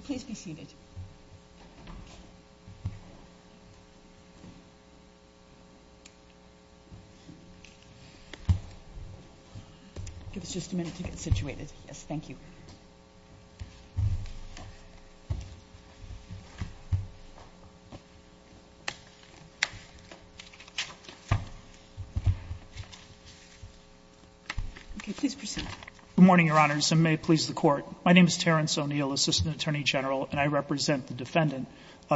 Please be seated. Give us just a minute to get situated. Thank you. Please proceed. Good morning, Your Honors, and may it please the Court. My name is Terrence O'Neill, Assistant Attorney General, and I represent the defendant,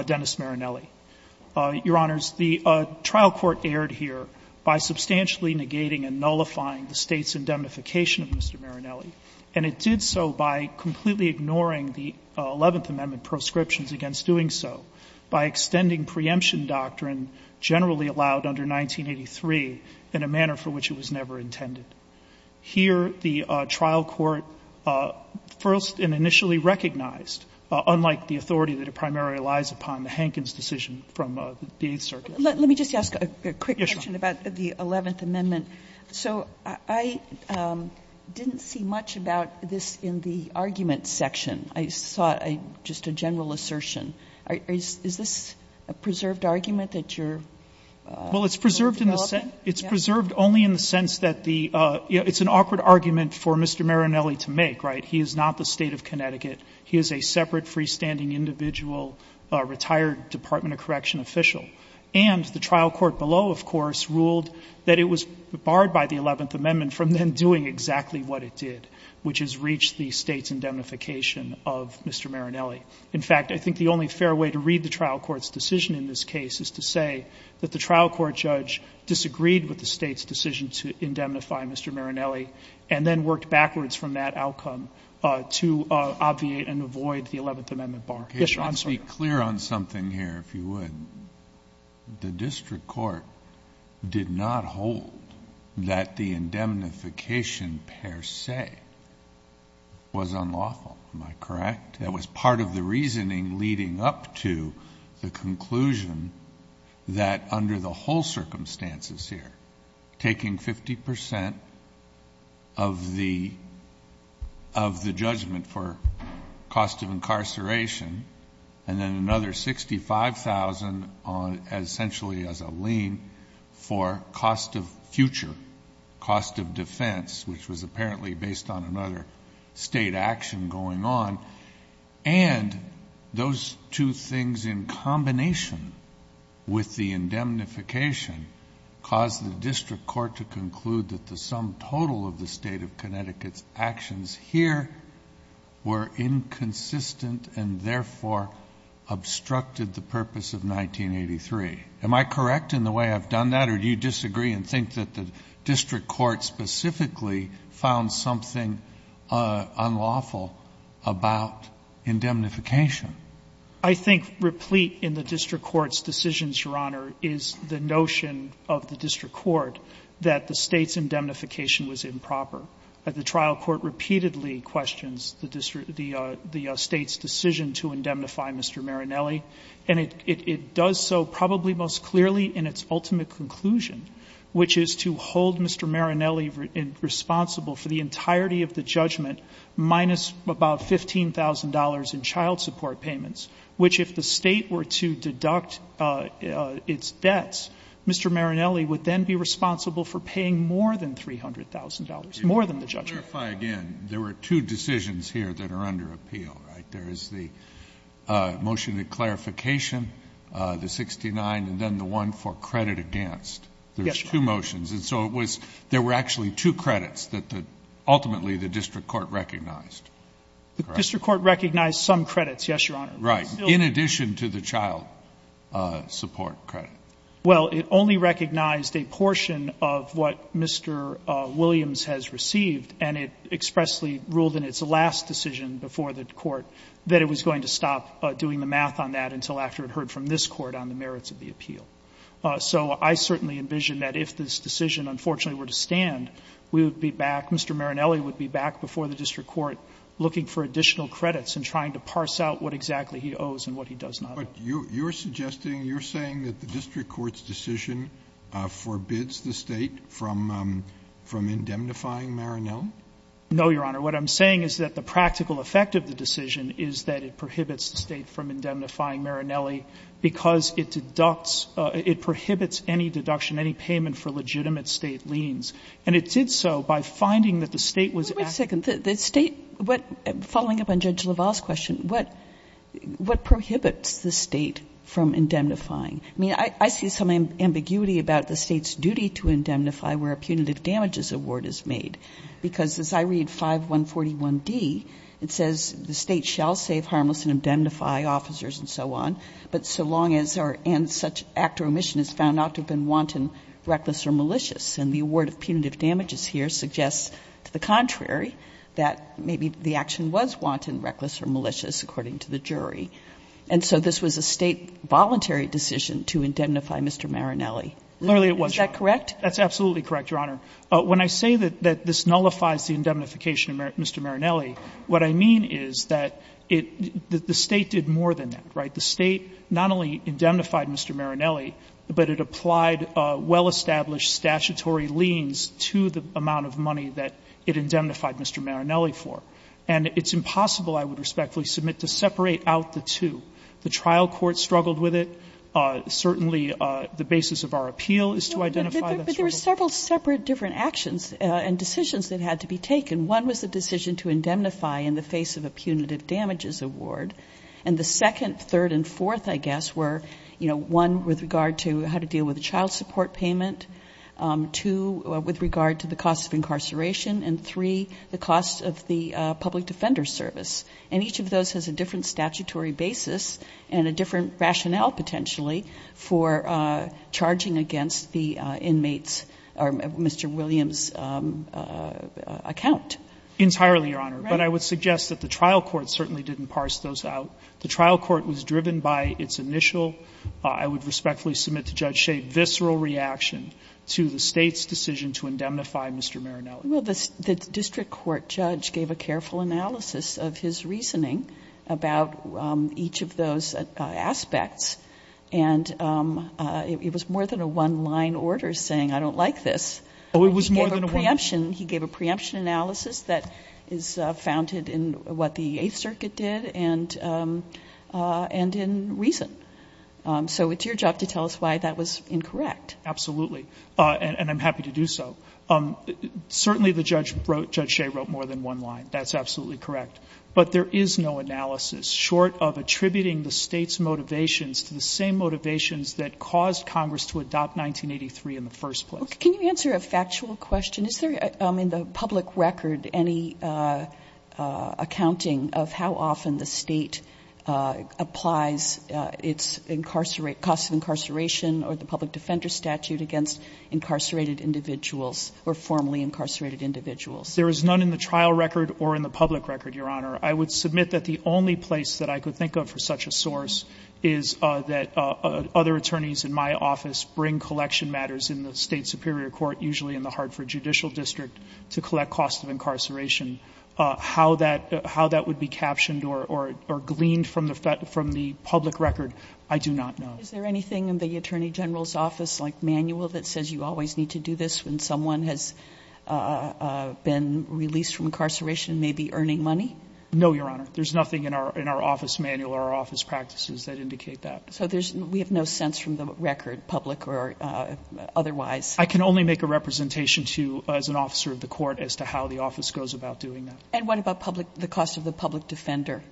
Dennis Marinelli. Your Honors, the trial court erred here by substantially negating and nullifying the State's indemnification of Mr. Marinelli, and it did so by completely ignoring the Eleventh Amendment proscriptions against doing so, by extending preemption doctrine generally allowed under 1983 in a manner for which it was never intended. Here, the trial court first and initially recognized, unlike the authority that it primarily relies upon, the Hankins decision from the Eighth Circuit. Let me just ask a quick question about the Eleventh Amendment. So I didn't see much about this in the argument section. I saw just a general assertion. Is this a preserved argument that you're developing? Well, it's preserved only in the sense that the — it's an awkward argument for Mr. Marinelli to make, right? He is not the State of Connecticut. He is a separate, freestanding, individual, retired Department of Correction official. And the trial court below, of course, ruled that it was barred by the Eleventh Amendment from then doing exactly what it did, which is reach the State's indemnification of Mr. Marinelli. In fact, I think the only fair way to read the trial court's decision in this case is to say that the trial court judge disagreed with the State's decision to indemnify Mr. Marinelli and then worked backwards from that outcome to obviate and avoid the Eleventh Amendment bar. Yes, Your Honor. Let's be clear on something here, if you would. The district court did not hold that the indemnification per se was unlawful. Am I correct? That was part of the reasoning leading up to the conclusion that under the whole circumstances here, taking 50 percent of the judgment for cost of incarceration and then another 65,000 essentially as a lien for cost of future, cost of defense, which was apparently based on another state action going on, and those two things in combination with the indemnification caused the district court to conclude that the sum total of the State of Connecticut's actions here were inconsistent and therefore obstructed the purpose of 1983. Am I correct in the way I've done that, or do you disagree and think that the district court ultimately found something unlawful about indemnification? I think replete in the district court's decisions, Your Honor, is the notion of the district court that the State's indemnification was improper. The trial court repeatedly questions the State's decision to indemnify Mr. Marinelli, and it does so probably most clearly in its ultimate conclusion, which is to hold Mr. Marinelli responsible for the entirety of the judgment minus about $15,000 in child support payments, which if the State were to deduct its debts, Mr. Marinelli would then be responsible for paying more than $300,000, more than the judgment. Let me clarify again. There were two decisions here that are under appeal, right? There is the motion of clarification, the 69, and then the one for credit against. Yes, Your Honor. There were two motions, and so it was there were actually two credits that ultimately the district court recognized. Correct? The district court recognized some credits, yes, Your Honor. Right. In addition to the child support credit. Well, it only recognized a portion of what Mr. Williams has received, and it expressly ruled in its last decision before the Court that it was going to stop doing the math on that until after it heard from this Court on the merits of the appeal. So I certainly envision that if this decision unfortunately were to stand, we would be back, Mr. Marinelli would be back before the district court looking for additional credits and trying to parse out what exactly he owes and what he does not. But you're suggesting, you're saying that the district court's decision forbids the State from indemnifying Marinelli? No, Your Honor. What I'm saying is that the practical effect of the decision is that it prohibits the State from indemnifying Marinelli because it deducts, it prohibits any deduction, any payment for legitimate State liens. And it did so by finding that the State was acting. Wait a second. The State, following up on Judge LaValle's question, what prohibits the State from indemnifying? I mean, I see some ambiguity about the State's duty to indemnify where a punitive damages award is made. Because as I read 5141D, it says the State shall save harmless and indemnify officers and so on, but so long as or and such act or omission is found not to have been wanton, reckless, or malicious. And the award of punitive damages here suggests to the contrary that maybe the action was wanton, reckless, or malicious, according to the jury. And so this was a State voluntary decision to indemnify Mr. Marinelli. Literally it was, Your Honor. Is that correct? That's absolutely correct, Your Honor. When I say that this nullifies the indemnification of Mr. Marinelli, what I mean is that it the State did more than that, right? The State not only indemnified Mr. Marinelli, but it applied well-established statutory liens to the amount of money that it indemnified Mr. Marinelli for. And it's impossible, I would respectfully submit, to separate out the two. The trial court struggled with it. Certainly the basis of our appeal is to identify that struggle. There were several separate different actions and decisions that had to be taken. One was the decision to indemnify in the face of a punitive damages award. And the second, third, and fourth, I guess, were one with regard to how to deal with a child support payment, two with regard to the cost of incarceration, and three the cost of the public defender service. And each of those has a different statutory basis and a different rationale potentially for charging against the inmates or Mr. Williams' account. Entirely, Your Honor. But I would suggest that the trial court certainly didn't parse those out. The trial court was driven by its initial, I would respectfully submit to Judge Shade, visceral reaction to the State's decision to indemnify Mr. Marinelli. Well, the district court judge gave a careful analysis of his reasoning about each of those aspects, and it was more than a one-line order saying, I don't like this. Oh, it was more than a one-line? He gave a preemption analysis that is founded in what the Eighth Circuit did and in reason. So it's your job to tell us why that was incorrect. Absolutely. And I'm happy to do so. Certainly the judge wrote, Judge Shade wrote more than one line. That's absolutely correct. But there is no analysis short of attributing the State's motivations to the same motivations that caused Congress to adopt 1983 in the first place. Can you answer a factual question? Is there in the public record any accounting of how often the State applies its cost of incarceration or the public defender statute against incarcerated individuals or formerly incarcerated individuals? There is none in the trial record or in the public record, Your Honor. I would submit that the only place that I could think of for such a source is that other attorneys in my office bring collection matters in the State superior court, usually in the Hartford Judicial District, to collect cost of incarceration. How that would be captioned or gleaned from the public record, I do not know. Is there anything in the Attorney General's office like manual that says you always need to do this when someone has been released from incarceration, maybe earning money? No, Your Honor. There's nothing in our office manual or our office practices that indicate that. So we have no sense from the record, public or otherwise. I can only make a representation to you as an officer of the court as to how the office goes about doing that. And what about the cost of the public defender?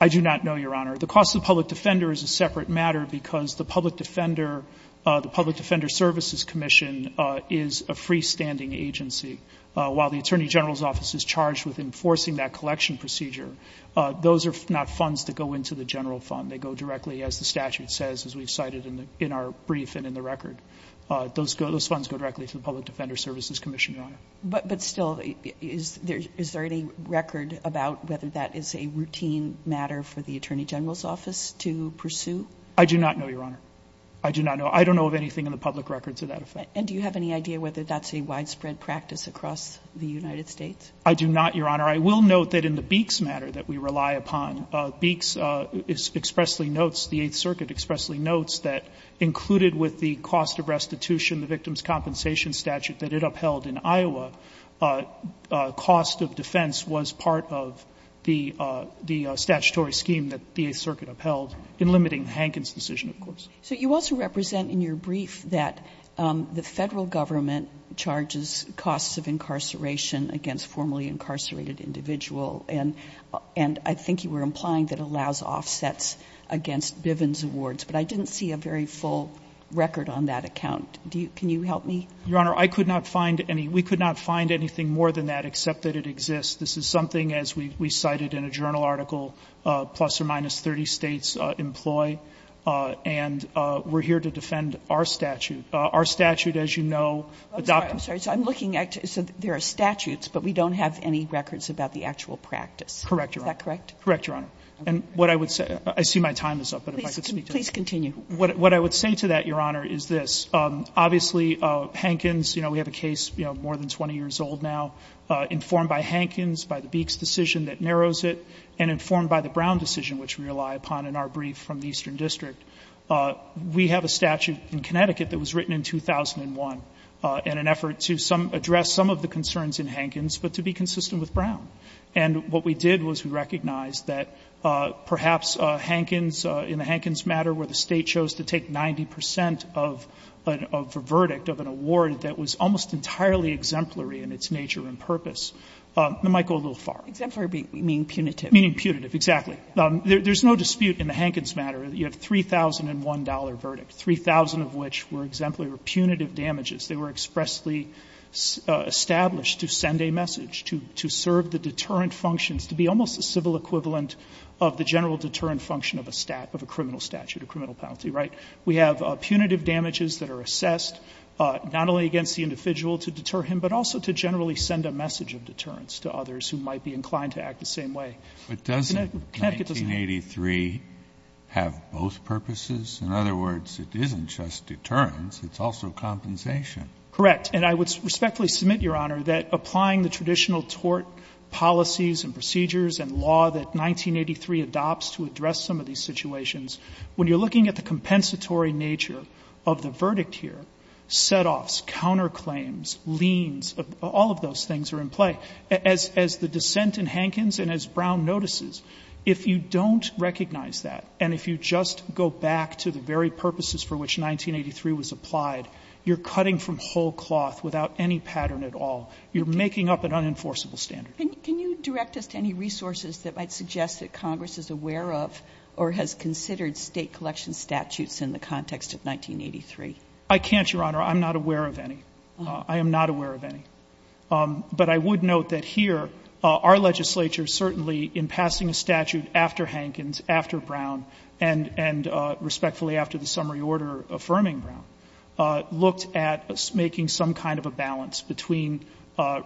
I do not know, Your Honor. The cost of the public defender is a separate matter because the public defender, the public defender services commission is a freestanding agency. While the Attorney General's office is charged with enforcing that collection procedure, those are not funds that go into the general fund. They go directly, as the statute says, as we've cited in our brief and in the record. Those funds go directly to the public defender services commission, Your Honor. But still, is there any record about whether that is a routine matter for the Attorney General's office to pursue? I do not know, Your Honor. I do not know. I don't know of anything in the public record to that effect. And do you have any idea whether that's a widespread practice across the United States? I do not, Your Honor. I will note that in the Beeks matter that we rely upon, Beeks expressly notes, the Eighth Circuit expressly notes that included with the cost of restitution, the victim's compensation statute that it upheld in Iowa, cost of defense was part of the statutory scheme that the Eighth Circuit upheld in limiting the Hankins decision, of course. So you also represent in your brief that the Federal Government charges costs of incarceration against formerly incarcerated individual. And I think you were implying that allows offsets against Bivens awards. But I didn't see a very full record on that account. Can you help me? Your Honor, I could not find any. We could not find anything more than that, except that it exists. This is something, as we cited in a journal article, plus or minus 30 states employ. And we're here to defend our statute. Our statute, as you know, adopts. I'm sorry. I'm looking at it. So there are statutes, but we don't have any records about the actual practice. Correct, Your Honor. Is that correct? Correct, Your Honor. And what I would say, I see my time is up, but if I could speak to it. Please continue. What I would say to that, Your Honor, is this. Obviously, Hankins, you know, we have a case more than 20 years old now, informed by Hankins, by the Beeks decision that narrows it, and informed by the Brown decision which we rely upon in our brief from the Eastern District. We have a statute in Connecticut that was written in 2001 in an effort to address some of the concerns in Hankins, but to be consistent with Brown. And what we did was we recognized that perhaps Hankins, in the Hankins matter, where the State chose to take 90 percent of a verdict of an award that was almost entirely exemplary in its nature and purpose, it might go a little far. Exemplary meaning punitive. Meaning punitive, exactly. There's no dispute in the Hankins matter. You have a $3,001 verdict, 3,000 of which were exemplary or punitive damages. They were expressly established to send a message, to serve the deterrent functions, to be almost the civil equivalent of the general deterrent function of a criminal statute, a criminal penalty, right? We have punitive damages that are assessed, not only against the individual to deter him, but also to generally send a message of deterrence to others who might be inclined to act the same way. But doesn't 1983 have both purposes? In other words, it isn't just deterrence. It's also compensation. Correct. And I would respectfully submit, Your Honor, that applying the traditional tort policies and procedures and law that 1983 adopts to address some of these situations, when you're looking at the compensatory nature of the verdict here, setoffs, counterclaims, liens, all of those things are in play. But as the dissent in Hankins and as Brown notices, if you don't recognize that, and if you just go back to the very purposes for which 1983 was applied, you're cutting from whole cloth without any pattern at all. You're making up an unenforceable standard. Can you direct us to any resources that might suggest that Congress is aware of or has considered State collection statutes in the context of 1983? I can't, Your Honor. I'm not aware of any. I am not aware of any. But I would note that here our legislature certainly in passing a statute after Hankins, after Brown, and respectfully after the summary order affirming Brown, looked at making some kind of a balance between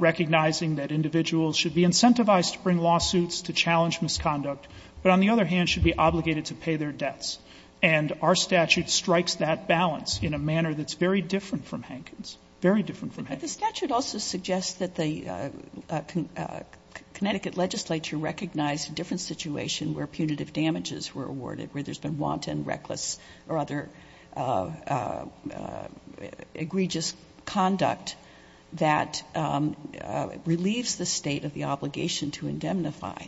recognizing that individuals should be incentivized to bring lawsuits, to challenge misconduct, but on the other hand should be obligated to pay their debts. And our statute strikes that balance in a manner that's very different from Hankins, very different from Hankins. But the statute also suggests that the Connecticut legislature recognized a different situation where punitive damages were awarded, where there's been wanton, reckless, or other egregious conduct that relieves the State of the obligation to indemnify.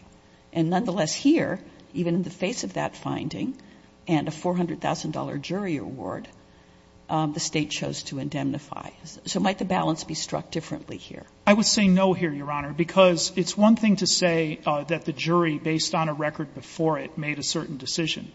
And nonetheless here, even in the face of that finding and a $400,000 jury award, the State chose to indemnify. So might the balance be struck differently here? I would say no here, Your Honor, because it's one thing to say that the jury, based on a record before it, made a certain decision.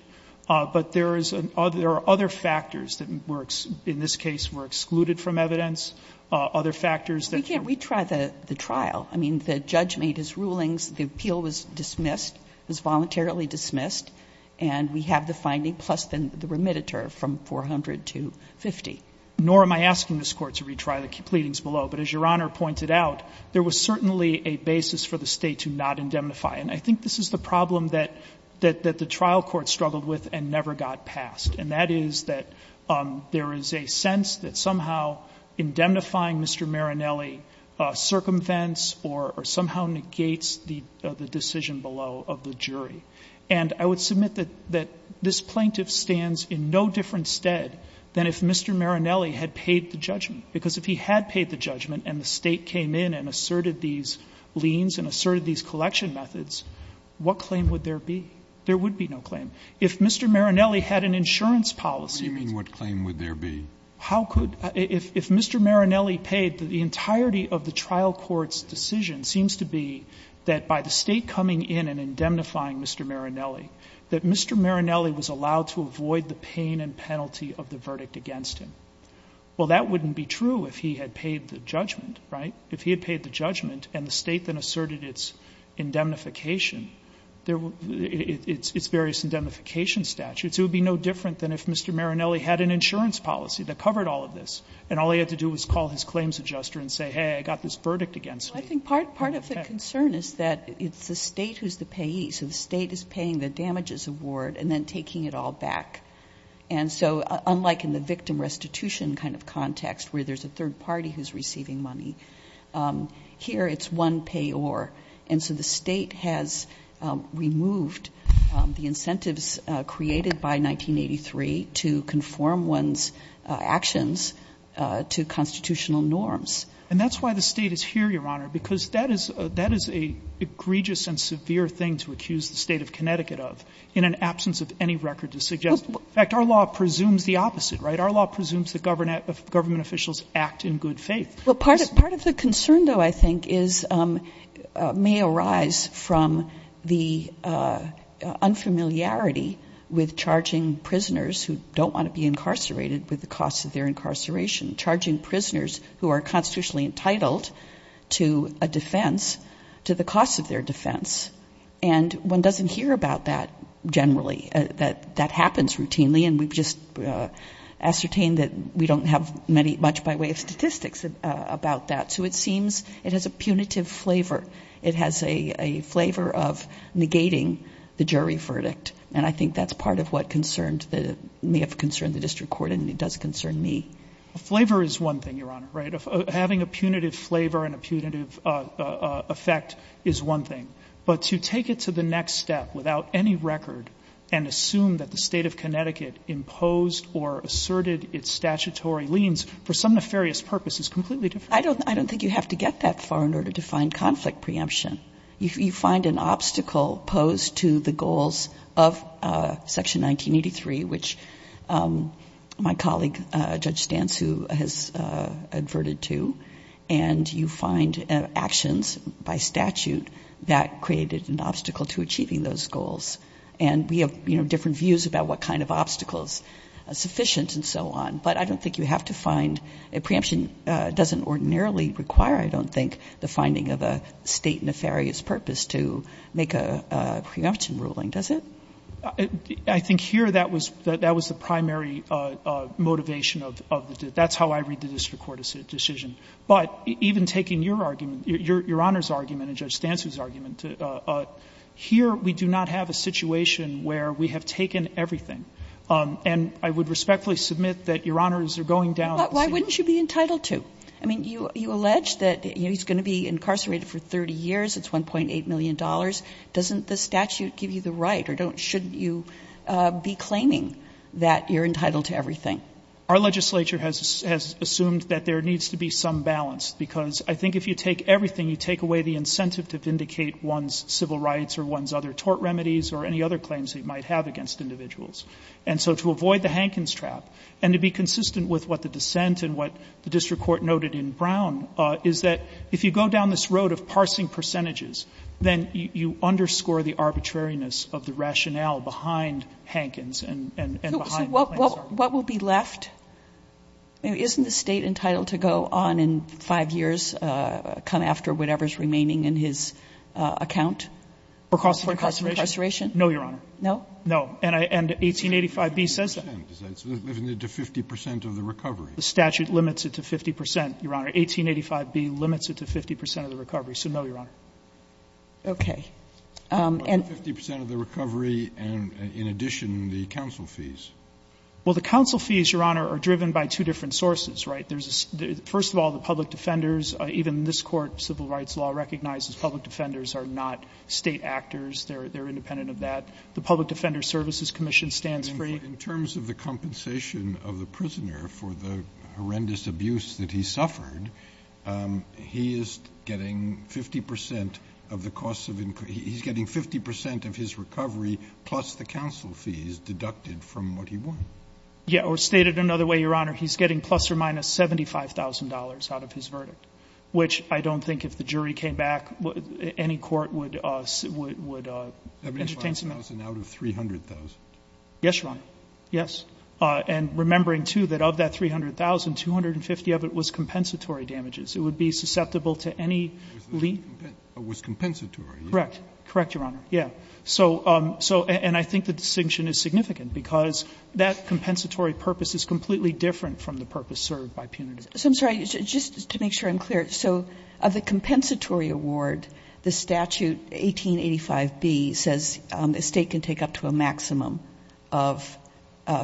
But there are other factors that were, in this case, were excluded from evidence, other factors that were excluded. We can't retry the trial. I mean, the judge made his rulings. The appeal was dismissed, was voluntarily dismissed. And we have the finding, plus the remediator from $400,000 to $50,000. Nor am I asking this Court to retry the pleadings below. But as Your Honor pointed out, there was certainly a basis for the State to not indemnify. And I think this is the problem that the trial court struggled with and never got passed, and that is that there is a sense that somehow indemnifying Mr. Marinelli circumvents or somehow negates the decision below of the jury. And I would submit that this plaintiff stands in no different stead than if Mr. Marinelli had paid the judgment, because if he had paid the judgment and the State came in and asserted these liens and asserted these collection methods, what claim would there be? There would be no claim. If Mr. Marinelli had an insurance policy, he means to say. What do you mean, what claim would there be? How could? If Mr. Marinelli paid, the entirety of the trial court's decision seems to be that by the State coming in and indemnifying Mr. Marinelli, that Mr. Marinelli was allowed to avoid the pain and penalty of the verdict against him. Well, that wouldn't be true if he had paid the judgment, right? If he had paid the judgment and the State then asserted its indemnification, its various indemnification statutes, it would be no different than if Mr. Marinelli had an insurance policy that covered all of this, and all he had to do was call his claims adjuster and say, hey, I got this verdict against me. Sotomayor, I think part of the concern is that it's the State who's the payee, so the State is paying the damages award and then taking it all back. And so unlike in the victim restitution kind of context where there's a third party who's receiving money, here it's one payor. And so the State has removed the incentives created by 1983 to conform one's actions to constitutional norms. And that's why the State is here, Your Honor, because that is an egregious and severe thing to accuse the State of Connecticut of in an absence of any record to suggest. In fact, our law presumes the opposite, right? Our law presumes that government officials act in good faith. Well, part of the concern, though, I think, may arise from the unfamiliarity with charging prisoners who don't want to be incarcerated with the cost of their incarceration, charging prisoners who are constitutionally entitled to a defense to the cost of their defense. And one doesn't hear about that generally. That happens routinely, and we've just ascertained that we don't have much by way of statistics about that. So it seems it has a punitive flavor. It has a flavor of negating the jury verdict. And I think that's part of what concerned the district court, and it does concern me. Flavor is one thing, Your Honor, right? Punitive effect is one thing. But to take it to the next step without any record and assume that the State of Connecticut imposed or asserted its statutory liens for some nefarious purpose is completely different. I don't think you have to get that far in order to find conflict preemption. You find an obstacle posed to the goals of Section 1983, which my colleague, Judge Stantz, who has adverted to. And you find actions by statute that created an obstacle to achieving those goals. And we have, you know, different views about what kind of obstacles are sufficient and so on. But I don't think you have to find a preemption. It doesn't ordinarily require, I don't think, the finding of a State nefarious purpose to make a preemption ruling, does it? I think here that was the primary motivation of the decision. That's how I read the district court decision. But even taking your argument, Your Honor's argument and Judge Stantz's argument, here we do not have a situation where we have taken everything. And I would respectfully submit that Your Honors are going down the same path. Kagan. But why wouldn't you be entitled to? I mean, you allege that, you know, he's going to be incarcerated for 30 years, it's $1.8 million. Doesn't the statute give you the right? Or shouldn't you be claiming that you're entitled to everything? Our legislature has assumed that there needs to be some balance. Because I think if you take everything, you take away the incentive to vindicate one's civil rights or one's other tort remedies or any other claims they might have against individuals. And so to avoid the Hankins trap, and to be consistent with what the dissent and what the district court noted in Brown, is that if you go down this road of you underscore the arbitrariness of the rationale behind Hankins and behind the claims charge. So what will be left? I mean, isn't the State entitled to go on in five years, come after whatever's remaining in his account? For cost of incarceration? For cost of incarceration? No, Your Honor. No? No. And 1885B says that. It's limited to 50 percent of the recovery. The statute limits it to 50 percent, Your Honor. 1885B limits it to 50 percent of the recovery. So no, Your Honor. Okay. And the 50 percent of the recovery and, in addition, the counsel fees. Well, the counsel fees, Your Honor, are driven by two different sources, right? There's a — first of all, the public defenders, even this Court, civil rights law, recognizes public defenders are not State actors. They're independent of that. The Public Defender Services Commission stands free. In terms of the compensation of the prisoner for the horrendous abuse that he suffered, he is getting 50 percent of the cost of — he's getting 50 percent of his recovery plus the counsel fees deducted from what he won. Yeah. Or stated another way, Your Honor, he's getting plus or minus $75,000 out of his verdict, which I don't think if the jury came back, any court would entertain — $75,000 out of $300,000. Yes, Your Honor. Yes. And remembering, too, that of that $300,000, $250,000 of it was compensatory damages. It would be susceptible to any — It was compensatory. Correct. Correct, Your Honor. Yeah. So — and I think the distinction is significant because that compensatory purpose is completely different from the purpose served by punitive. So I'm sorry. Just to make sure I'm clear. So of the compensatory award, the statute 1885B says a State can take up to a maximum of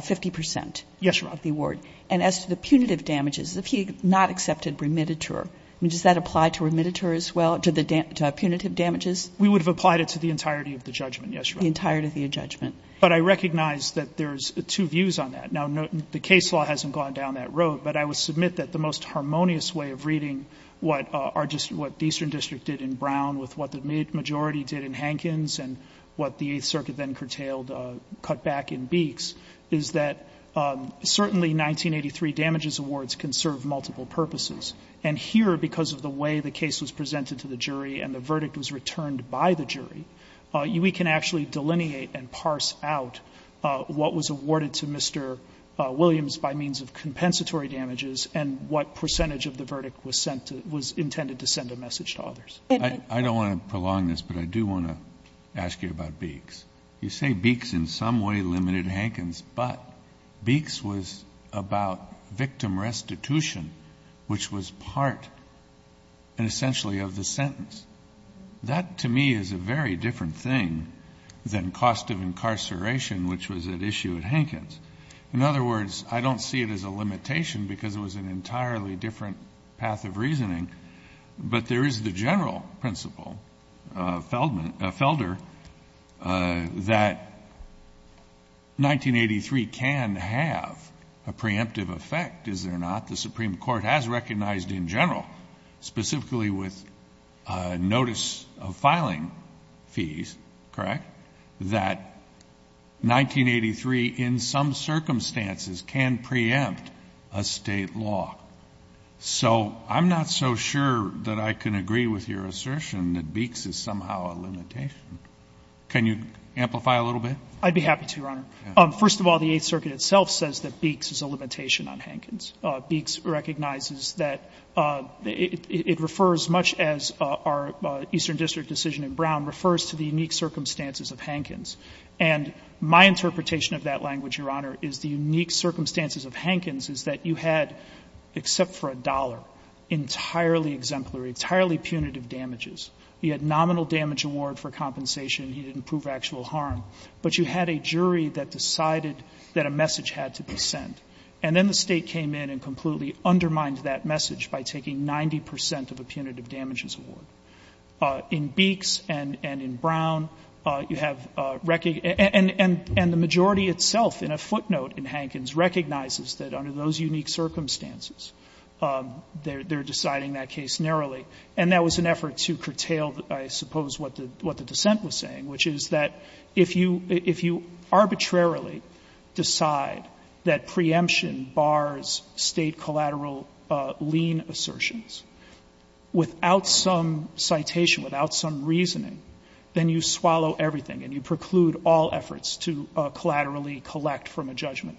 50 percent — Yes, Your Honor. — of the award. And as to the punitive damages, if he had not accepted remittiture, I mean, does that apply to remittiture as well, to the punitive damages? We would have applied it to the entirety of the judgment, yes, Your Honor. The entirety of the judgment. But I recognize that there's two views on that. Now, the case law hasn't gone down that road, but I would submit that the most harmonious way of reading what our — what the Eastern District did in Brown with what the majority did in Hankins and what the Eighth Circuit then curtailed, cut back in Beeks, is that certainly 1983 damages awards can serve multiple purposes. And here, because of the way the case was presented to the jury and the verdict was returned by the jury, we can actually delineate and parse out what was awarded to Mr. Williams by means of compensatory damages and what percentage of the verdict was sent to — was intended to send a message to others. I don't want to prolong this, but I do want to ask you about Beeks. You say Beeks in some way limited Hankins, but Beeks was about victim restitution, which was part, essentially, of the sentence. That, to me, is a very different thing than cost of incarceration, which was at issue at Hankins. In other words, I don't see it as a limitation because it was an entirely different path of reasoning, but there is the general principle, Felder, that 1983 can have a preemptive effect, is there not? The Supreme Court has recognized in general, specifically with notice of filing fees, correct, that 1983 in some circumstances can preempt a State law. So I'm not so sure that I can agree with your assertion that Beeks is somehow a limitation. Can you amplify a little bit? I'd be happy to, Your Honor. First of all, the Eighth Circuit itself says that Beeks is a limitation on Hankins. Beeks recognizes that it refers, much as our Eastern District decision in Brown refers to the unique circumstances of Hankins. And my interpretation of that language, Your Honor, is the unique circumstances of Hankins is that you had, except for a dollar, entirely exemplary, entirely punitive damages. You had nominal damage award for compensation. You didn't prove actual harm. But you had a jury that decided that a message had to be sent. And then the State came in and completely undermined that message by taking 90 percent of a punitive damages award. In Beeks and in Brown, you have recognized – and the majority itself in a footnote in Hankins recognizes that under those unique circumstances, they're deciding that case narrowly. And that was an effort to curtail, I suppose, what the dissent was saying, which is that if you arbitrarily decide that preemption bars State collateral lien assertions without some citation, without some reasoning, then you swallow everything and you preclude all efforts to collateral lien collect from a judgment.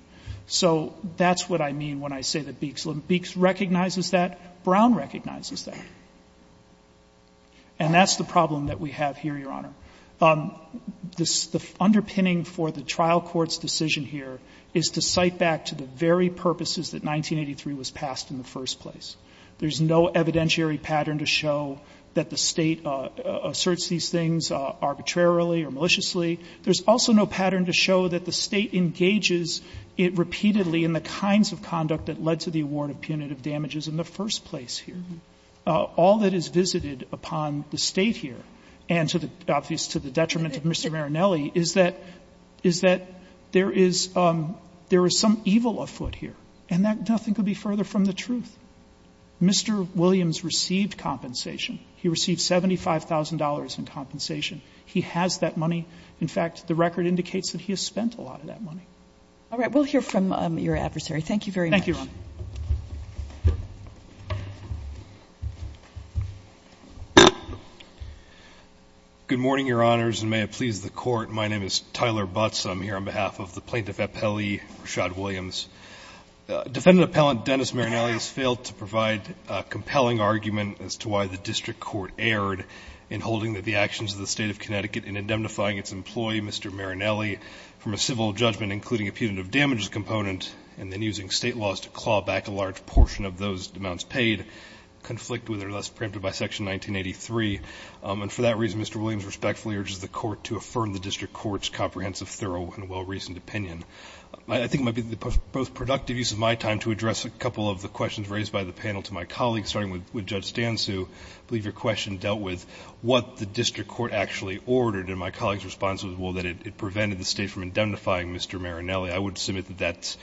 So that's what I mean when I say that Beeks recognizes that. Brown recognizes that. And that's the problem that we have here, Your Honor. The underpinning for the trial court's decision here is to cite back to the very purposes that 1983 was passed in the first place. There's no evidentiary pattern to show that the State asserts these things arbitrarily or maliciously. There's also no pattern to show that the State engages it repeatedly in the kinds of conduct that led to the award of punitive damages in the first place here. All that is visited upon the State here, and to the detriment of Mr. Marinelli, is that there is some evil afoot here. And nothing could be further from the truth. Mr. Williams received compensation. He received $75,000 in compensation. He has that money. In fact, the record indicates that he has spent a lot of that money. All right. We'll hear from your adversary. Thank you very much. Thank you, Your Honor. Good morning, Your Honors, and may it please the Court. My name is Tyler Butts. I'm here on behalf of the plaintiff appellee Rashad Williams. Defendant appellant Dennis Marinelli has failed to provide a compelling argument as to why the district court erred in holding that the actions of the State of Connecticut in indemnifying its employee, Mr. Marinelli, from a civil judgment, including a punitive damages component, and then using State laws to claw back a large portion of those amounts paid, conflict with or thus preempted by Section 1983. And for that reason, Mr. Williams respectfully urges the Court to affirm the district court's comprehensive, thorough, and well-reasoned opinion. I think it might be the most productive use of my time to address a couple of the questions raised by the panel to my colleagues, starting with Judge Stansu. I believe your question dealt with what the district court actually ordered, and my colleague's response was, well, that it prevented the State from indemnifying Mr. Marinelli. I would submit that that's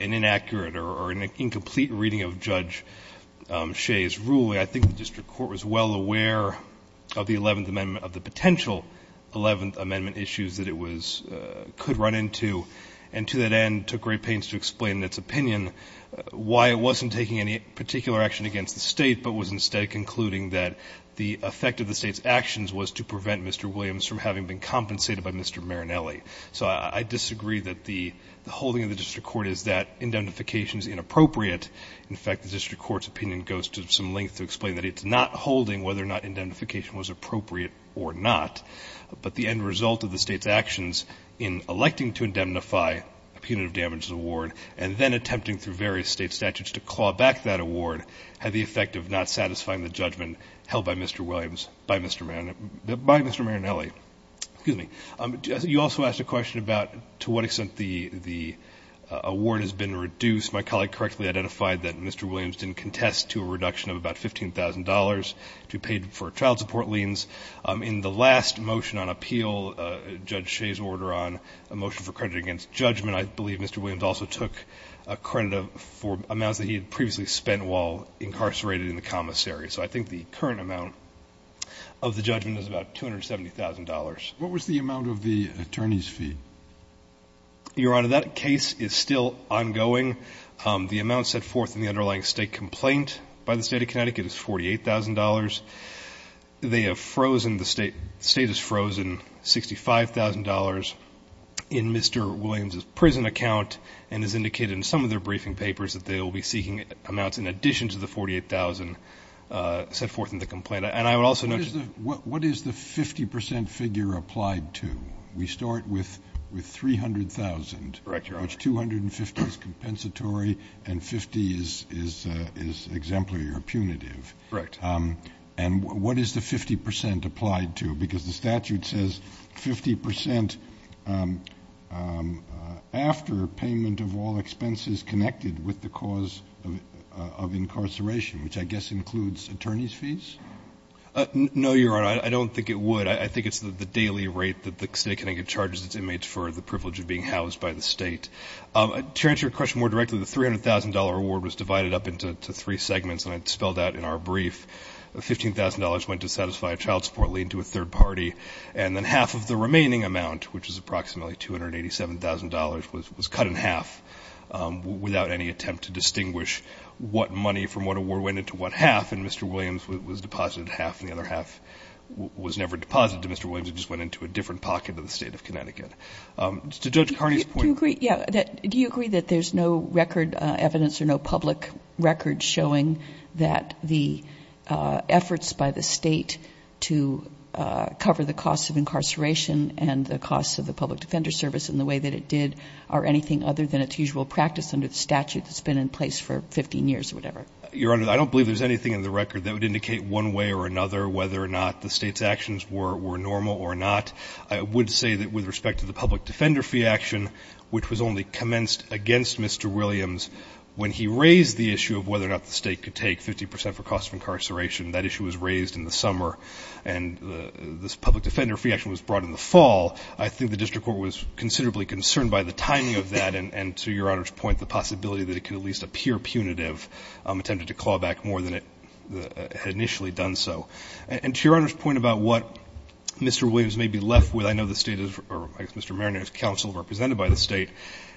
an inaccurate or an incomplete reading of Judge Shea's ruling. I think the district court was well aware of the Eleventh Amendment, of the potential Eleventh Amendment issues that it was — could run into, and to that end took great pains to explain in its opinion why it wasn't taking any particular action against the State, but was instead concluding that the effect of the State's actions was to prevent Mr. Williams from having been compensated by Mr. Marinelli. So I disagree that the holding of the district court is that indemnification is inappropriate. In fact, the district court's opinion goes to some length to explain that it's not But the end result of the State's actions in electing to indemnify a punitive damages award and then attempting through various State statutes to claw back that award had the effect of not satisfying the judgment held by Mr. Williams — by Mr. Marinelli. You also asked a question about to what extent the award has been reduced. My colleague correctly identified that Mr. Williams didn't contest to a reduction of about $15,000 to be paid for child support liens. In the last motion on appeal, Judge Shea's order on a motion for credit against judgment, I believe Mr. Williams also took credit for amounts that he had previously spent while incarcerated in the commissary. So I think the current amount of the judgment is about $270,000. What was the amount of the attorney's fee? Your Honor, that case is still ongoing. The amount set forth in the underlying State complaint by the State of Connecticut is $48,000. They have frozen — the State has frozen $65,000 in Mr. Williams' prison account and has indicated in some of their briefing papers that they will be seeking amounts in addition to the $48,000 set forth in the complaint. And I would also note — What is the 50 percent figure applied to? We start with $300,000. Correct, Your Honor. Which $250,000 is compensatory and $50,000 is exemplary or punitive. Correct. And what is the 50 percent applied to? Because the statute says 50 percent after payment of all expenses connected with the cause of incarceration, which I guess includes attorney's fees? No, Your Honor, I don't think it would. I think it's the daily rate that the State of Connecticut charges its inmates for the privilege of being housed by the State. To answer your question more directly, the $300,000 award was divided up into three $15,000 went to satisfy a child support lien to a third party, and then half of the remaining amount, which is approximately $287,000, was cut in half without any attempt to distinguish what money from what award went into what half, and Mr. Williams was deposited half and the other half was never deposited to Mr. Williams. It just went into a different pocket of the State of Connecticut. To Judge Carney's point — Do you agree that there's no record evidence or no public record showing that the efforts by the State to cover the cost of incarceration and the cost of the public defender service in the way that it did are anything other than its usual practice under the statute that's been in place for 15 years or whatever? Your Honor, I don't believe there's anything in the record that would indicate one way or another whether or not the State's actions were normal or not. I would say that with respect to the public defender fee action, which was only commenced against Mr. Williams when he raised the issue of whether or not the cost of incarceration, that issue was raised in the summer and this public defender fee action was brought in the fall, I think the district court was considerably concerned by the timing of that and, to Your Honor's point, the possibility that it could at least appear punitive, attempted to claw back more than it had initially done so. And to Your Honor's point about what Mr. Williams may be left with, I know the State has — or I guess Mr. Mariner's counsel represented by the State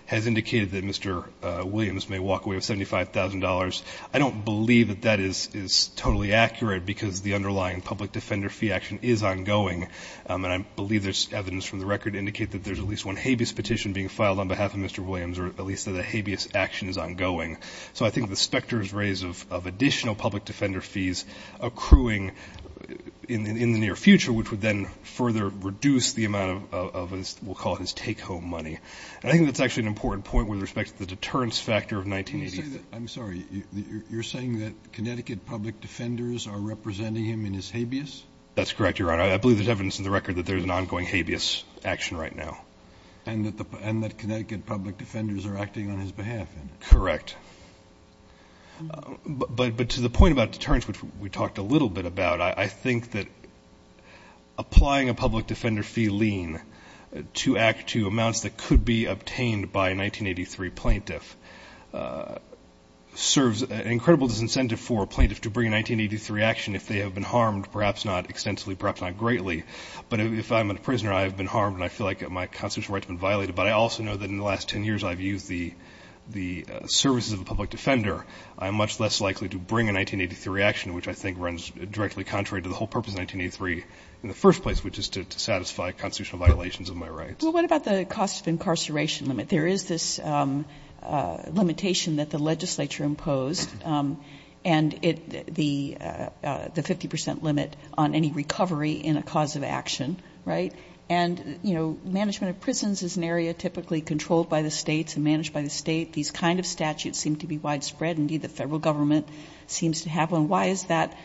has indicated that Mr. Williams may walk away with $75,000. I don't believe that that is totally accurate because the underlying public defender fee action is ongoing, and I believe there's evidence from the record to indicate that there's at least one habeas petition being filed on behalf of Mr. Williams or at least that a habeas action is ongoing. So I think the specter is raised of additional public defender fees accruing in the near future, which would then further reduce the amount of his — we'll call it his take-home money. And I think that's actually an important point with respect to the deterrence factor of 1985. I'm sorry. You're saying that Connecticut public defenders are representing him in his habeas? That's correct, Your Honor. I believe there's evidence in the record that there's an ongoing habeas action right now. And that Connecticut public defenders are acting on his behalf in it? Correct. But to the point about deterrence, which we talked a little bit about, I think that applying a public defender fee lien to act to amounts that could be obtained by a 1983 plaintiff serves an incredible disincentive for a plaintiff to bring a 1983 action if they have been harmed, perhaps not extensively, perhaps not greatly. But if I'm a prisoner, I have been harmed, and I feel like my constitutional rights have been violated. But I also know that in the last 10 years I've used the services of a public defender. I'm much less likely to bring a 1983 action, which I think runs directly contrary to the whole purpose of 1983 in the first place, which is to satisfy constitutional violations of my rights. Well, what about the cost of incarceration limit? There is this limitation that the legislature imposed, and the 50 percent limit on any recovery in a cause of action, right? And, you know, management of prisons is an area typically controlled by the states and managed by the state. These kind of statutes seem to be widespread. Indeed, the federal government seems to have one. Why is that,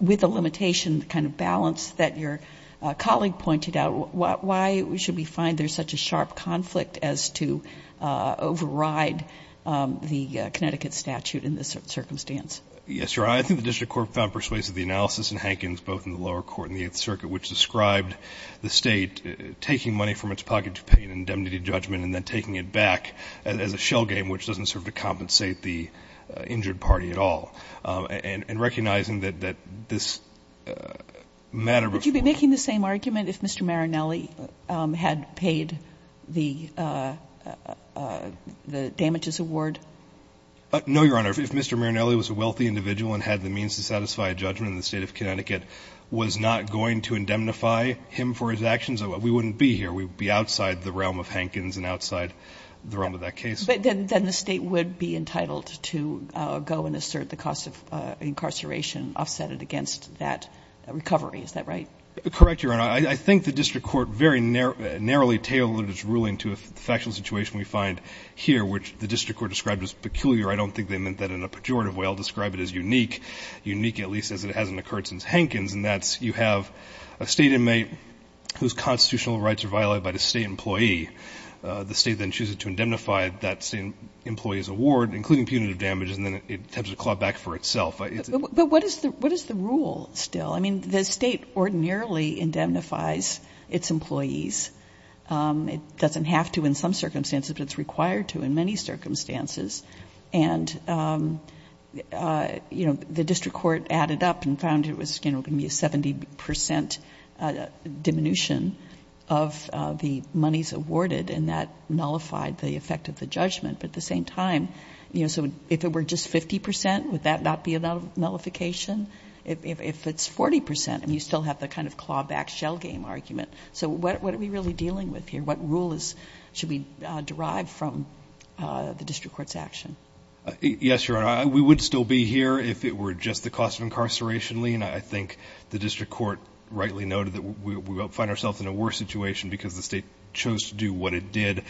with the limitation kind of balance that your colleague pointed out, why should we find there's such a sharp conflict as to override the Connecticut statute in this circumstance? Yes, Your Honor. I think the district court found persuasive the analysis in Hankins, both in the lower court and the Eighth Circuit, which described the state taking money from its pocket to pay an indemnity judgment and then taking it back as a shell game, which doesn't serve to compensate the injured party at all. And recognizing that this matter before you. Would you be making the same argument if Mr. Marinelli had paid the damages award? No, Your Honor. If Mr. Marinelli was a wealthy individual and had the means to satisfy a judgment in the State of Connecticut, was not going to indemnify him for his actions, we wouldn't be here. We would be outside the realm of Hankins and outside the realm of that case. But then the State would be entitled to go and assert the cost of incarceration offsetted against that recovery. Is that right? Correct, Your Honor. I think the district court very narrowly tailored its ruling to a factual situation we find here, which the district court described as peculiar. I don't think they meant that in a pejorative way. I'll describe it as unique, unique at least as it hasn't occurred since Hankins, and that's you have a State inmate whose constitutional rights are violated by the State employee. The State then chooses to indemnify that State employee's award, including punitive damages, and then it tends to claw back for itself. But what is the rule still? I mean, the State ordinarily indemnifies its employees. It doesn't have to in some circumstances, but it's required to in many circumstances. And, you know, the district court added up and found it was going to be a 70 percent diminution of the monies awarded, and that nullified the effect of the judgment. But at the same time, you know, so if it were just 50 percent, would that not be enough nullification? If it's 40 percent, I mean, you still have the kind of clawback shell game argument. So what are we really dealing with here? What rule should we derive from the district court's action? Yes, Your Honor, we would still be here if it were just the cost of incarceration lien. I think the district court rightly noted that we will find ourselves in a worse situation because the State chose to do what it did.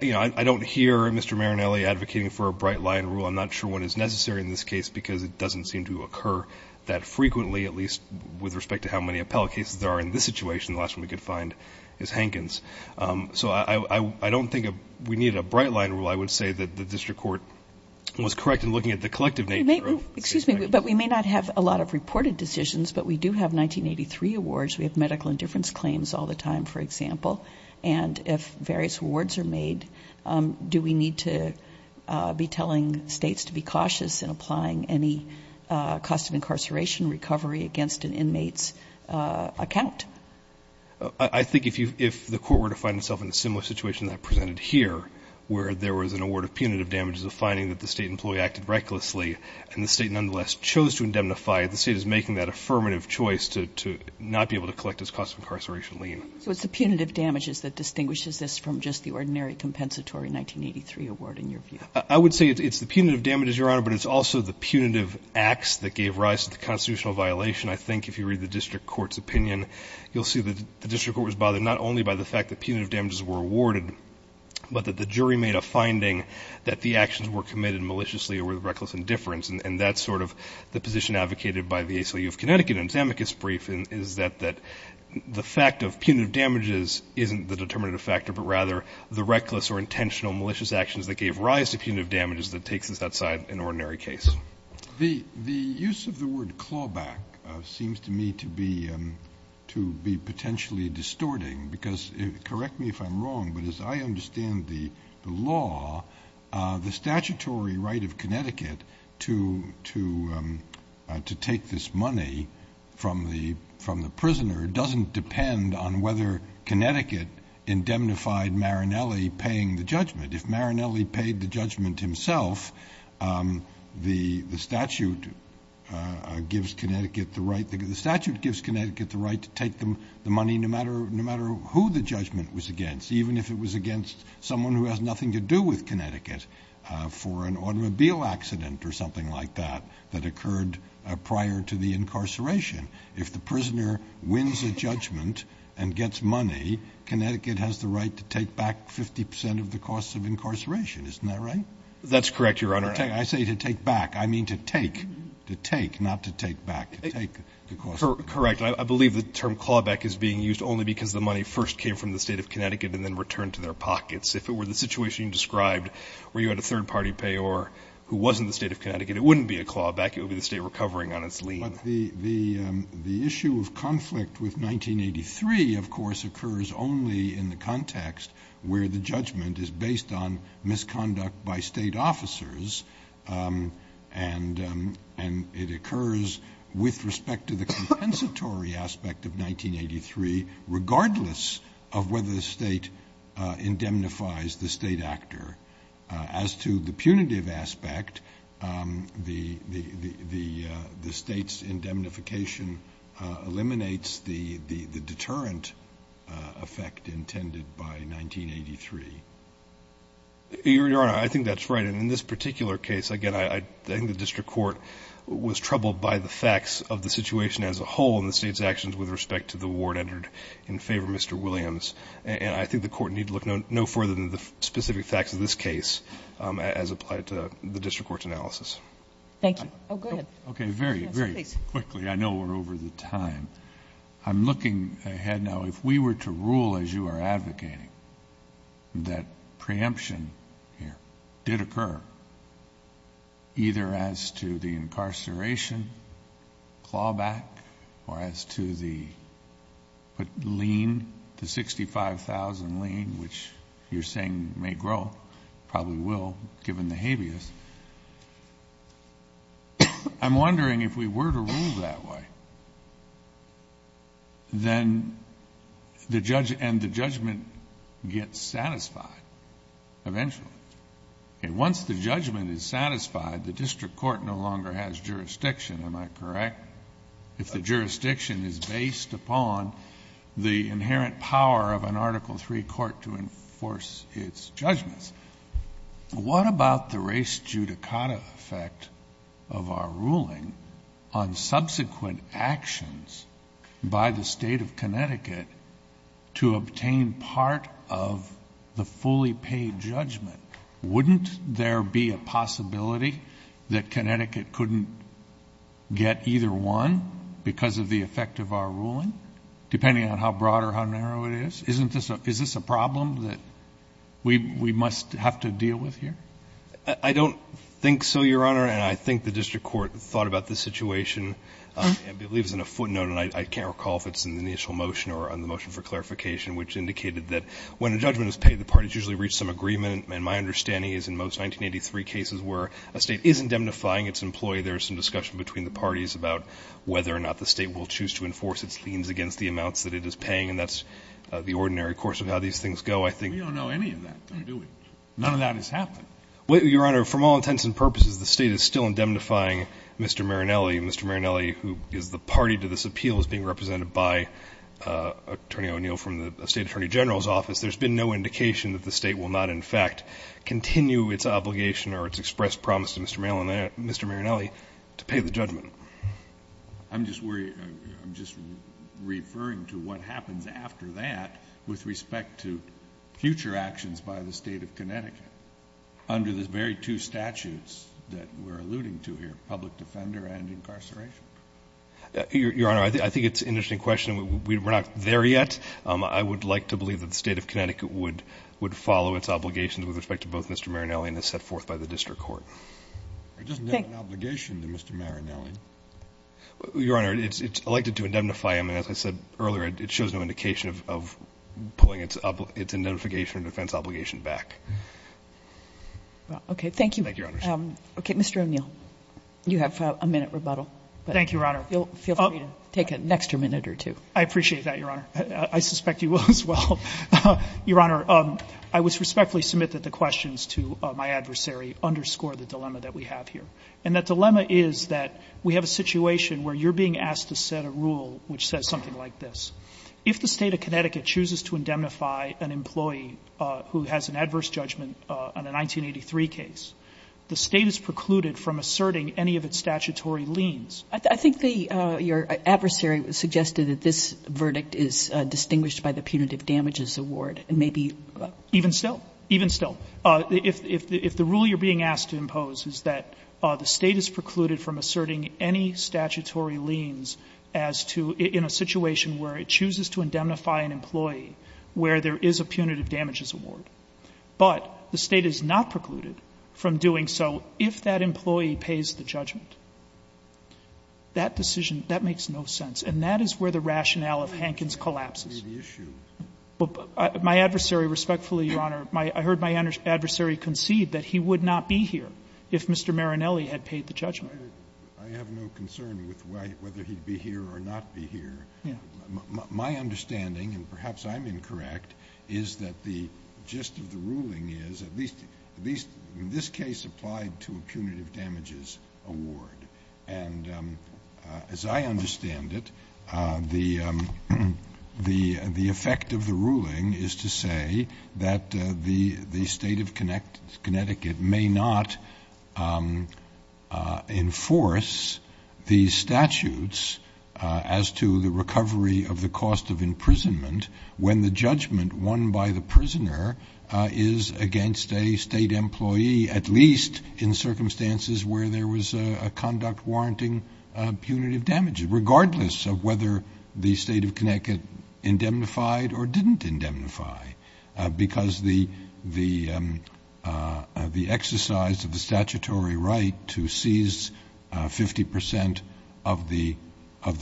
You know, I don't hear Mr. Marinelli advocating for a bright line rule. I'm not sure one is necessary in this case because it doesn't seem to occur that frequently, at least with respect to how many appellate cases there are in this situation. The last one we could find is Hankins. So I don't think we need a bright line rule. I would say that the district court was correct in looking at the collective nature of the State's actions. Excuse me, but we may not have a lot of reported decisions, but we do have 1983 awards. We have medical indifference claims all the time, for example. And if various rewards are made, do we need to be telling States to be cautious in applying any cost of incarceration recovery against an inmate's account? I think if the court were to find itself in a similar situation that I presented here, where there was an award of punitive damages of finding that the State employee acted recklessly and the State nonetheless chose to indemnify, the State is making that affirmative choice to not be able to collect its cost of incarceration lien. So it's the punitive damages that distinguishes this from just the ordinary compensatory 1983 award, in your view? I would say it's the punitive damages, Your Honor, but it's also the punitive acts that gave rise to the constitutional violation. I think if you read the district court's opinion, you'll see that the district court was bothered not only by the fact that punitive damages were awarded, but that the jury made a finding that the actions were committed maliciously or with reckless indifference. And that's sort of the position advocated by the ACLU of Connecticut in its amicus brief, is that the fact of punitive damages isn't the determinative factor, but rather the reckless or intentional malicious actions that gave rise to punitive damages that takes us outside an ordinary case. The use of the word clawback seems to me to be potentially distorting, because correct me if I'm wrong, but as I understand the law, the statutory right of the prisoner doesn't depend on whether Connecticut indemnified Marinelli paying the judgment. If Marinelli paid the judgment himself, the statute gives Connecticut the right to take the money no matter who the judgment was against, even if it was against someone who has nothing to do with Connecticut for an automobile accident or something like that that occurred prior to the incarceration. If the prisoner wins a judgment and gets money, Connecticut has the right to take back 50 percent of the costs of incarceration. Isn't that right? That's correct, Your Honor. I say to take back. I mean to take. To take, not to take back. To take the costs. Correct. I believe the term clawback is being used only because the money first came from the State of Connecticut and then returned to their pockets. If it were the situation you described where you had a third-party payor who wasn't from the State of Connecticut, it wouldn't be a clawback. It would be the State recovering on its lien. But the issue of conflict with 1983, of course, occurs only in the context where the judgment is based on misconduct by State officers, and it occurs with respect to the compensatory aspect of 1983 regardless of whether the State indemnifies the State actor. As to the punitive aspect, the State's indemnification eliminates the deterrent effect intended by 1983. Your Honor, I think that's right. And in this particular case, again, I think the district court was troubled by the facts of the situation as a whole and the State's actions with respect to the award entered in favor of Mr. Williams. And I think the Court need look no further than the specific facts of this case as applied to the district court's analysis. Thank you. Oh, go ahead. Okay. Very, very quickly. I know we're over the time. I'm looking ahead now. If we were to rule, as you are advocating, that preemption here did occur either as to the incarceration clawback or as to the lien, the $65,000 lien, which you're saying may grow, probably will given the habeas, I'm wondering if we were to rule that way, and the judgment gets satisfied eventually. Once the judgment is satisfied, the district court no longer has jurisdiction. Am I correct? If the jurisdiction is based upon the inherent power of an Article III court to enforce its judgments. What about the res judicata effect of our ruling on subsequent actions by the Wouldn't there be a possibility that Connecticut couldn't get either one because of the effect of our ruling, depending on how broad or how narrow it is? Isn't this a problem that we must have to deal with here? I don't think so, Your Honor. And I think the district court thought about this situation. I believe it was in a footnote, and I can't recall if it's in the initial motion or on the motion for clarification, which indicated that when a judgment is paid, the parties usually reach some agreement. And my understanding is in most 1983 cases where a state is indemnifying its employee, there is some discussion between the parties about whether or not the state will choose to enforce its liens against the amounts that it is paying, and that's the ordinary course of how these things go, I think. We don't know any of that, do we? None of that has happened. Your Honor, from all intents and purposes, the state is still indemnifying Mr. Marinelli, and Mr. Marinelli, who is the party to this appeal, is being represented by Attorney O'Neill from the State Attorney General's office. There's been no indication that the state will not, in fact, continue its obligation or its expressed promise to Mr. Marinelli to pay the judgment. I'm just worried. I'm just referring to what happens after that with respect to future actions by the State of Connecticut under the very two statutes that we're alluding to here, public defender and incarceration. Your Honor, I think it's an interesting question. We're not there yet. I would like to believe that the State of Connecticut would follow its obligations with respect to both Mr. Marinelli and as set forth by the district court. It doesn't have an obligation to Mr. Marinelli. Your Honor, it's elected to indemnify him, and as I said earlier, it shows no indication of pulling its indemnification or defense obligation back. Okay. Thank you. Thank you, Your Honor. Okay. Mr. O'Neill, you have a minute rebuttal. Thank you, Your Honor. Feel free to take an extra minute or two. I appreciate that, Your Honor. I suspect you will as well. Your Honor, I would respectfully submit that the questions to my adversary underscore the dilemma that we have here. And that dilemma is that we have a situation where you're being asked to set a rule which says something like this. If the State of Connecticut chooses to indemnify an employee who has an adverse judgment on a 1983 case, the State is precluded from asserting any of its statutory liens. I think the your adversary suggested that this verdict is distinguished by the punitive damages award. Even still. Even still. If the rule you're being asked to impose is that the State is precluded from asserting any statutory liens as to, in a situation where it chooses to indemnify an employee where there is a punitive damages award, but the State is not precluded from doing so, if that employee pays the judgment, that decision, that makes no sense. And that is where the rationale of Hankins collapses. My adversary respectfully, Your Honor, I heard my adversary concede that he would not be here if Mr. Marinelli had paid the judgment. I have no concern with whether he would be here or not be here. My understanding, and perhaps I'm incorrect, is that the gist of the ruling is, at least in my understanding, that the State is precluded from asserting any statutory liens as to, in a situation where it chooses to indemnify an employee where there is a punitive damages award. And as I understand it, the effect of the ruling is to say that the State of Connecticut may not enforce these statutes as to the recovery of the cost of imprisonment when the judgment won by the prisoner is against a State employee, at least in circumstances where there was a conduct warranting punitive damages, regardless of whether the State of Connecticut indemnified or didn't indemnify, because the exercise of the statutory right to seize 50% of the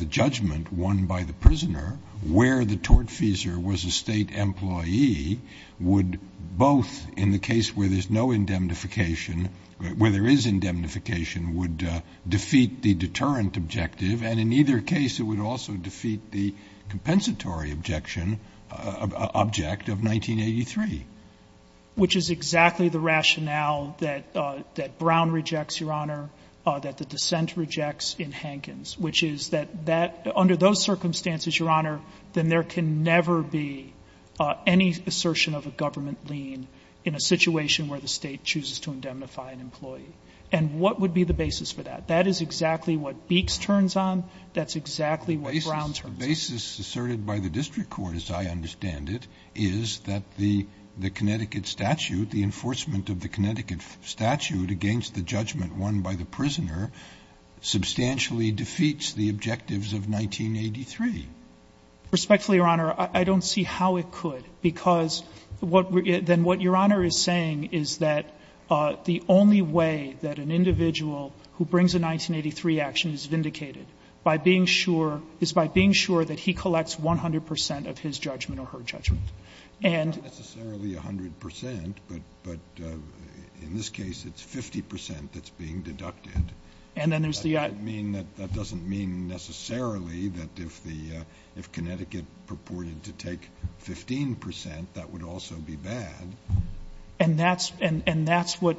judgment won by the prisoner where the tortfeasor was a State employee would both, in the case where there's no indemnification, where there is indemnification, would defeat the deterrent objective, and in either case it would also defeat the compensatory objection, object of 1983. Which is exactly the rationale that Brown rejects, Your Honor, that the dissent rejects in Hankins, which is that under those circumstances, Your Honor, then there can never be any assertion of a government lien in a situation where the State chooses to indemnify an employee. And what would be the basis for that? That is exactly what Beeks turns on. That's exactly what Brown turns on. The basis asserted by the district court, as I understand it, is that the Connecticut statute, the enforcement of the Connecticut statute against the judgment won by the prisoner, substantially defeats the objectives of 1983. Respectfully, Your Honor, I don't see how it could. Because what we're going to do, then what Your Honor is saying is that the only way that an individual who brings a 1983 action is vindicated by being sure, is by being sure that he collects 100 percent of his judgment or her judgment. And then there's the other. And it's not necessarily 100 percent, but in this case it's 50 percent that's being deducted. That doesn't mean necessarily that if Connecticut purported to take 15 percent, that would also be bad. And that's where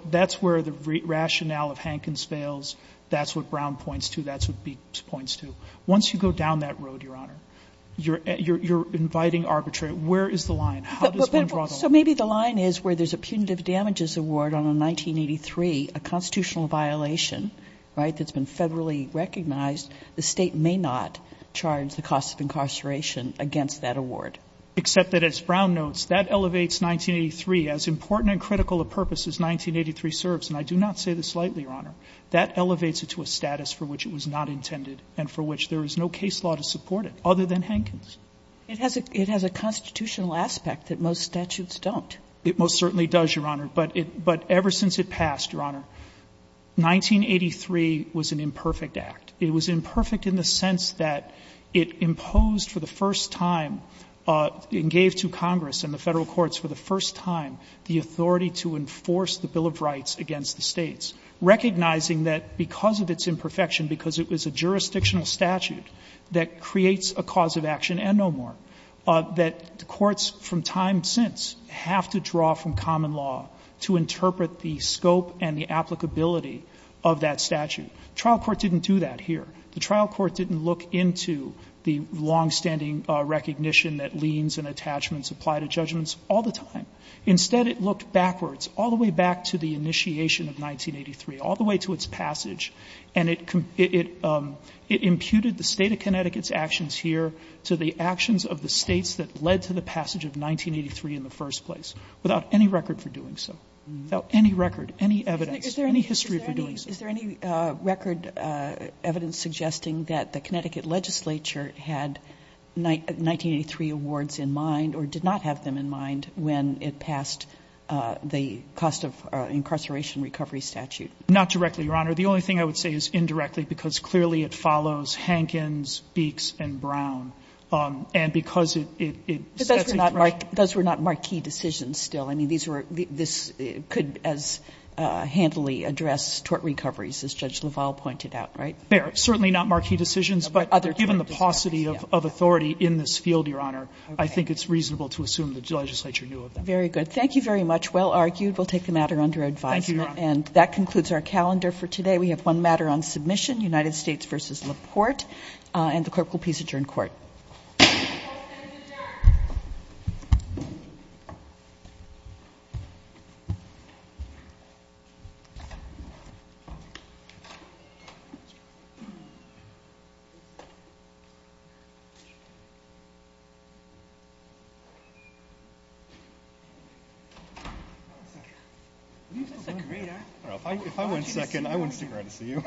the rationale of Hankins fails. That's what Brown points to. That's what Beeks points to. Once you go down that road, Your Honor, you're inviting arbitration. Where is the line? How does one draw the line? So maybe the line is where there's a punitive damages award on a 1983, a constitutional violation, right, that's been federally recognized. The State may not charge the cost of incarceration against that award. Except that as Brown notes, that elevates 1983. As important and critical a purpose as 1983 serves, and I do not say this lightly, Your Honor, that elevates it to a status for which it was not intended and for which there is no case law to support it other than Hankins. It has a constitutional aspect that most statutes don't. It most certainly does, Your Honor. But ever since it passed, Your Honor, 1983 was an imperfect act. It was imperfect in the sense that it imposed for the first time and gave to Congress and the Federal courts for the first time the authority to enforce the Bill of Rights against the States, recognizing that because of its imperfection, because it was a jurisdictional statute that creates a cause of action and no more, that courts from time since have to draw from common law to interpret the scope and the applicability of that statute. The trial court didn't do that here. The trial court didn't look into the longstanding recognition that liens and attachments apply to judgments all the time. Instead, it looked backwards, all the way back to the initiation of 1983, all the way to its passage. And it imputed the State of Connecticut's actions here to the actions of the States that led to the passage of 1983 in the first place, without any record for doing so, without any record, any evidence, any history for doing so. Kagan. Is there any record evidence suggesting that the Connecticut legislature had 1983 awards in mind or did not have them in mind when it passed the cost of incarceration recovery statute? Not directly, Your Honor. The only thing I would say is indirectly, because clearly it follows Hankins, Beeks, and Brown. And because it sets a threshold. But those were not marquee decisions still. I mean, these were, this could as handily address tort recoveries, as Judge LaValle pointed out, right? Certainly not marquee decisions. But given the paucity of authority in this field, Your Honor, I think it's reasonable to assume that the legislature knew of them. Very good. Thank you very much. Well argued. We'll take the matter under advisement. Thank you, Your Honor. And that concludes our calendar for today. We have one matter on submission, United States v. LaPorte. And the clerk will please adjourn court. Court is adjourned. If I went second, I wouldn't stick around to see you.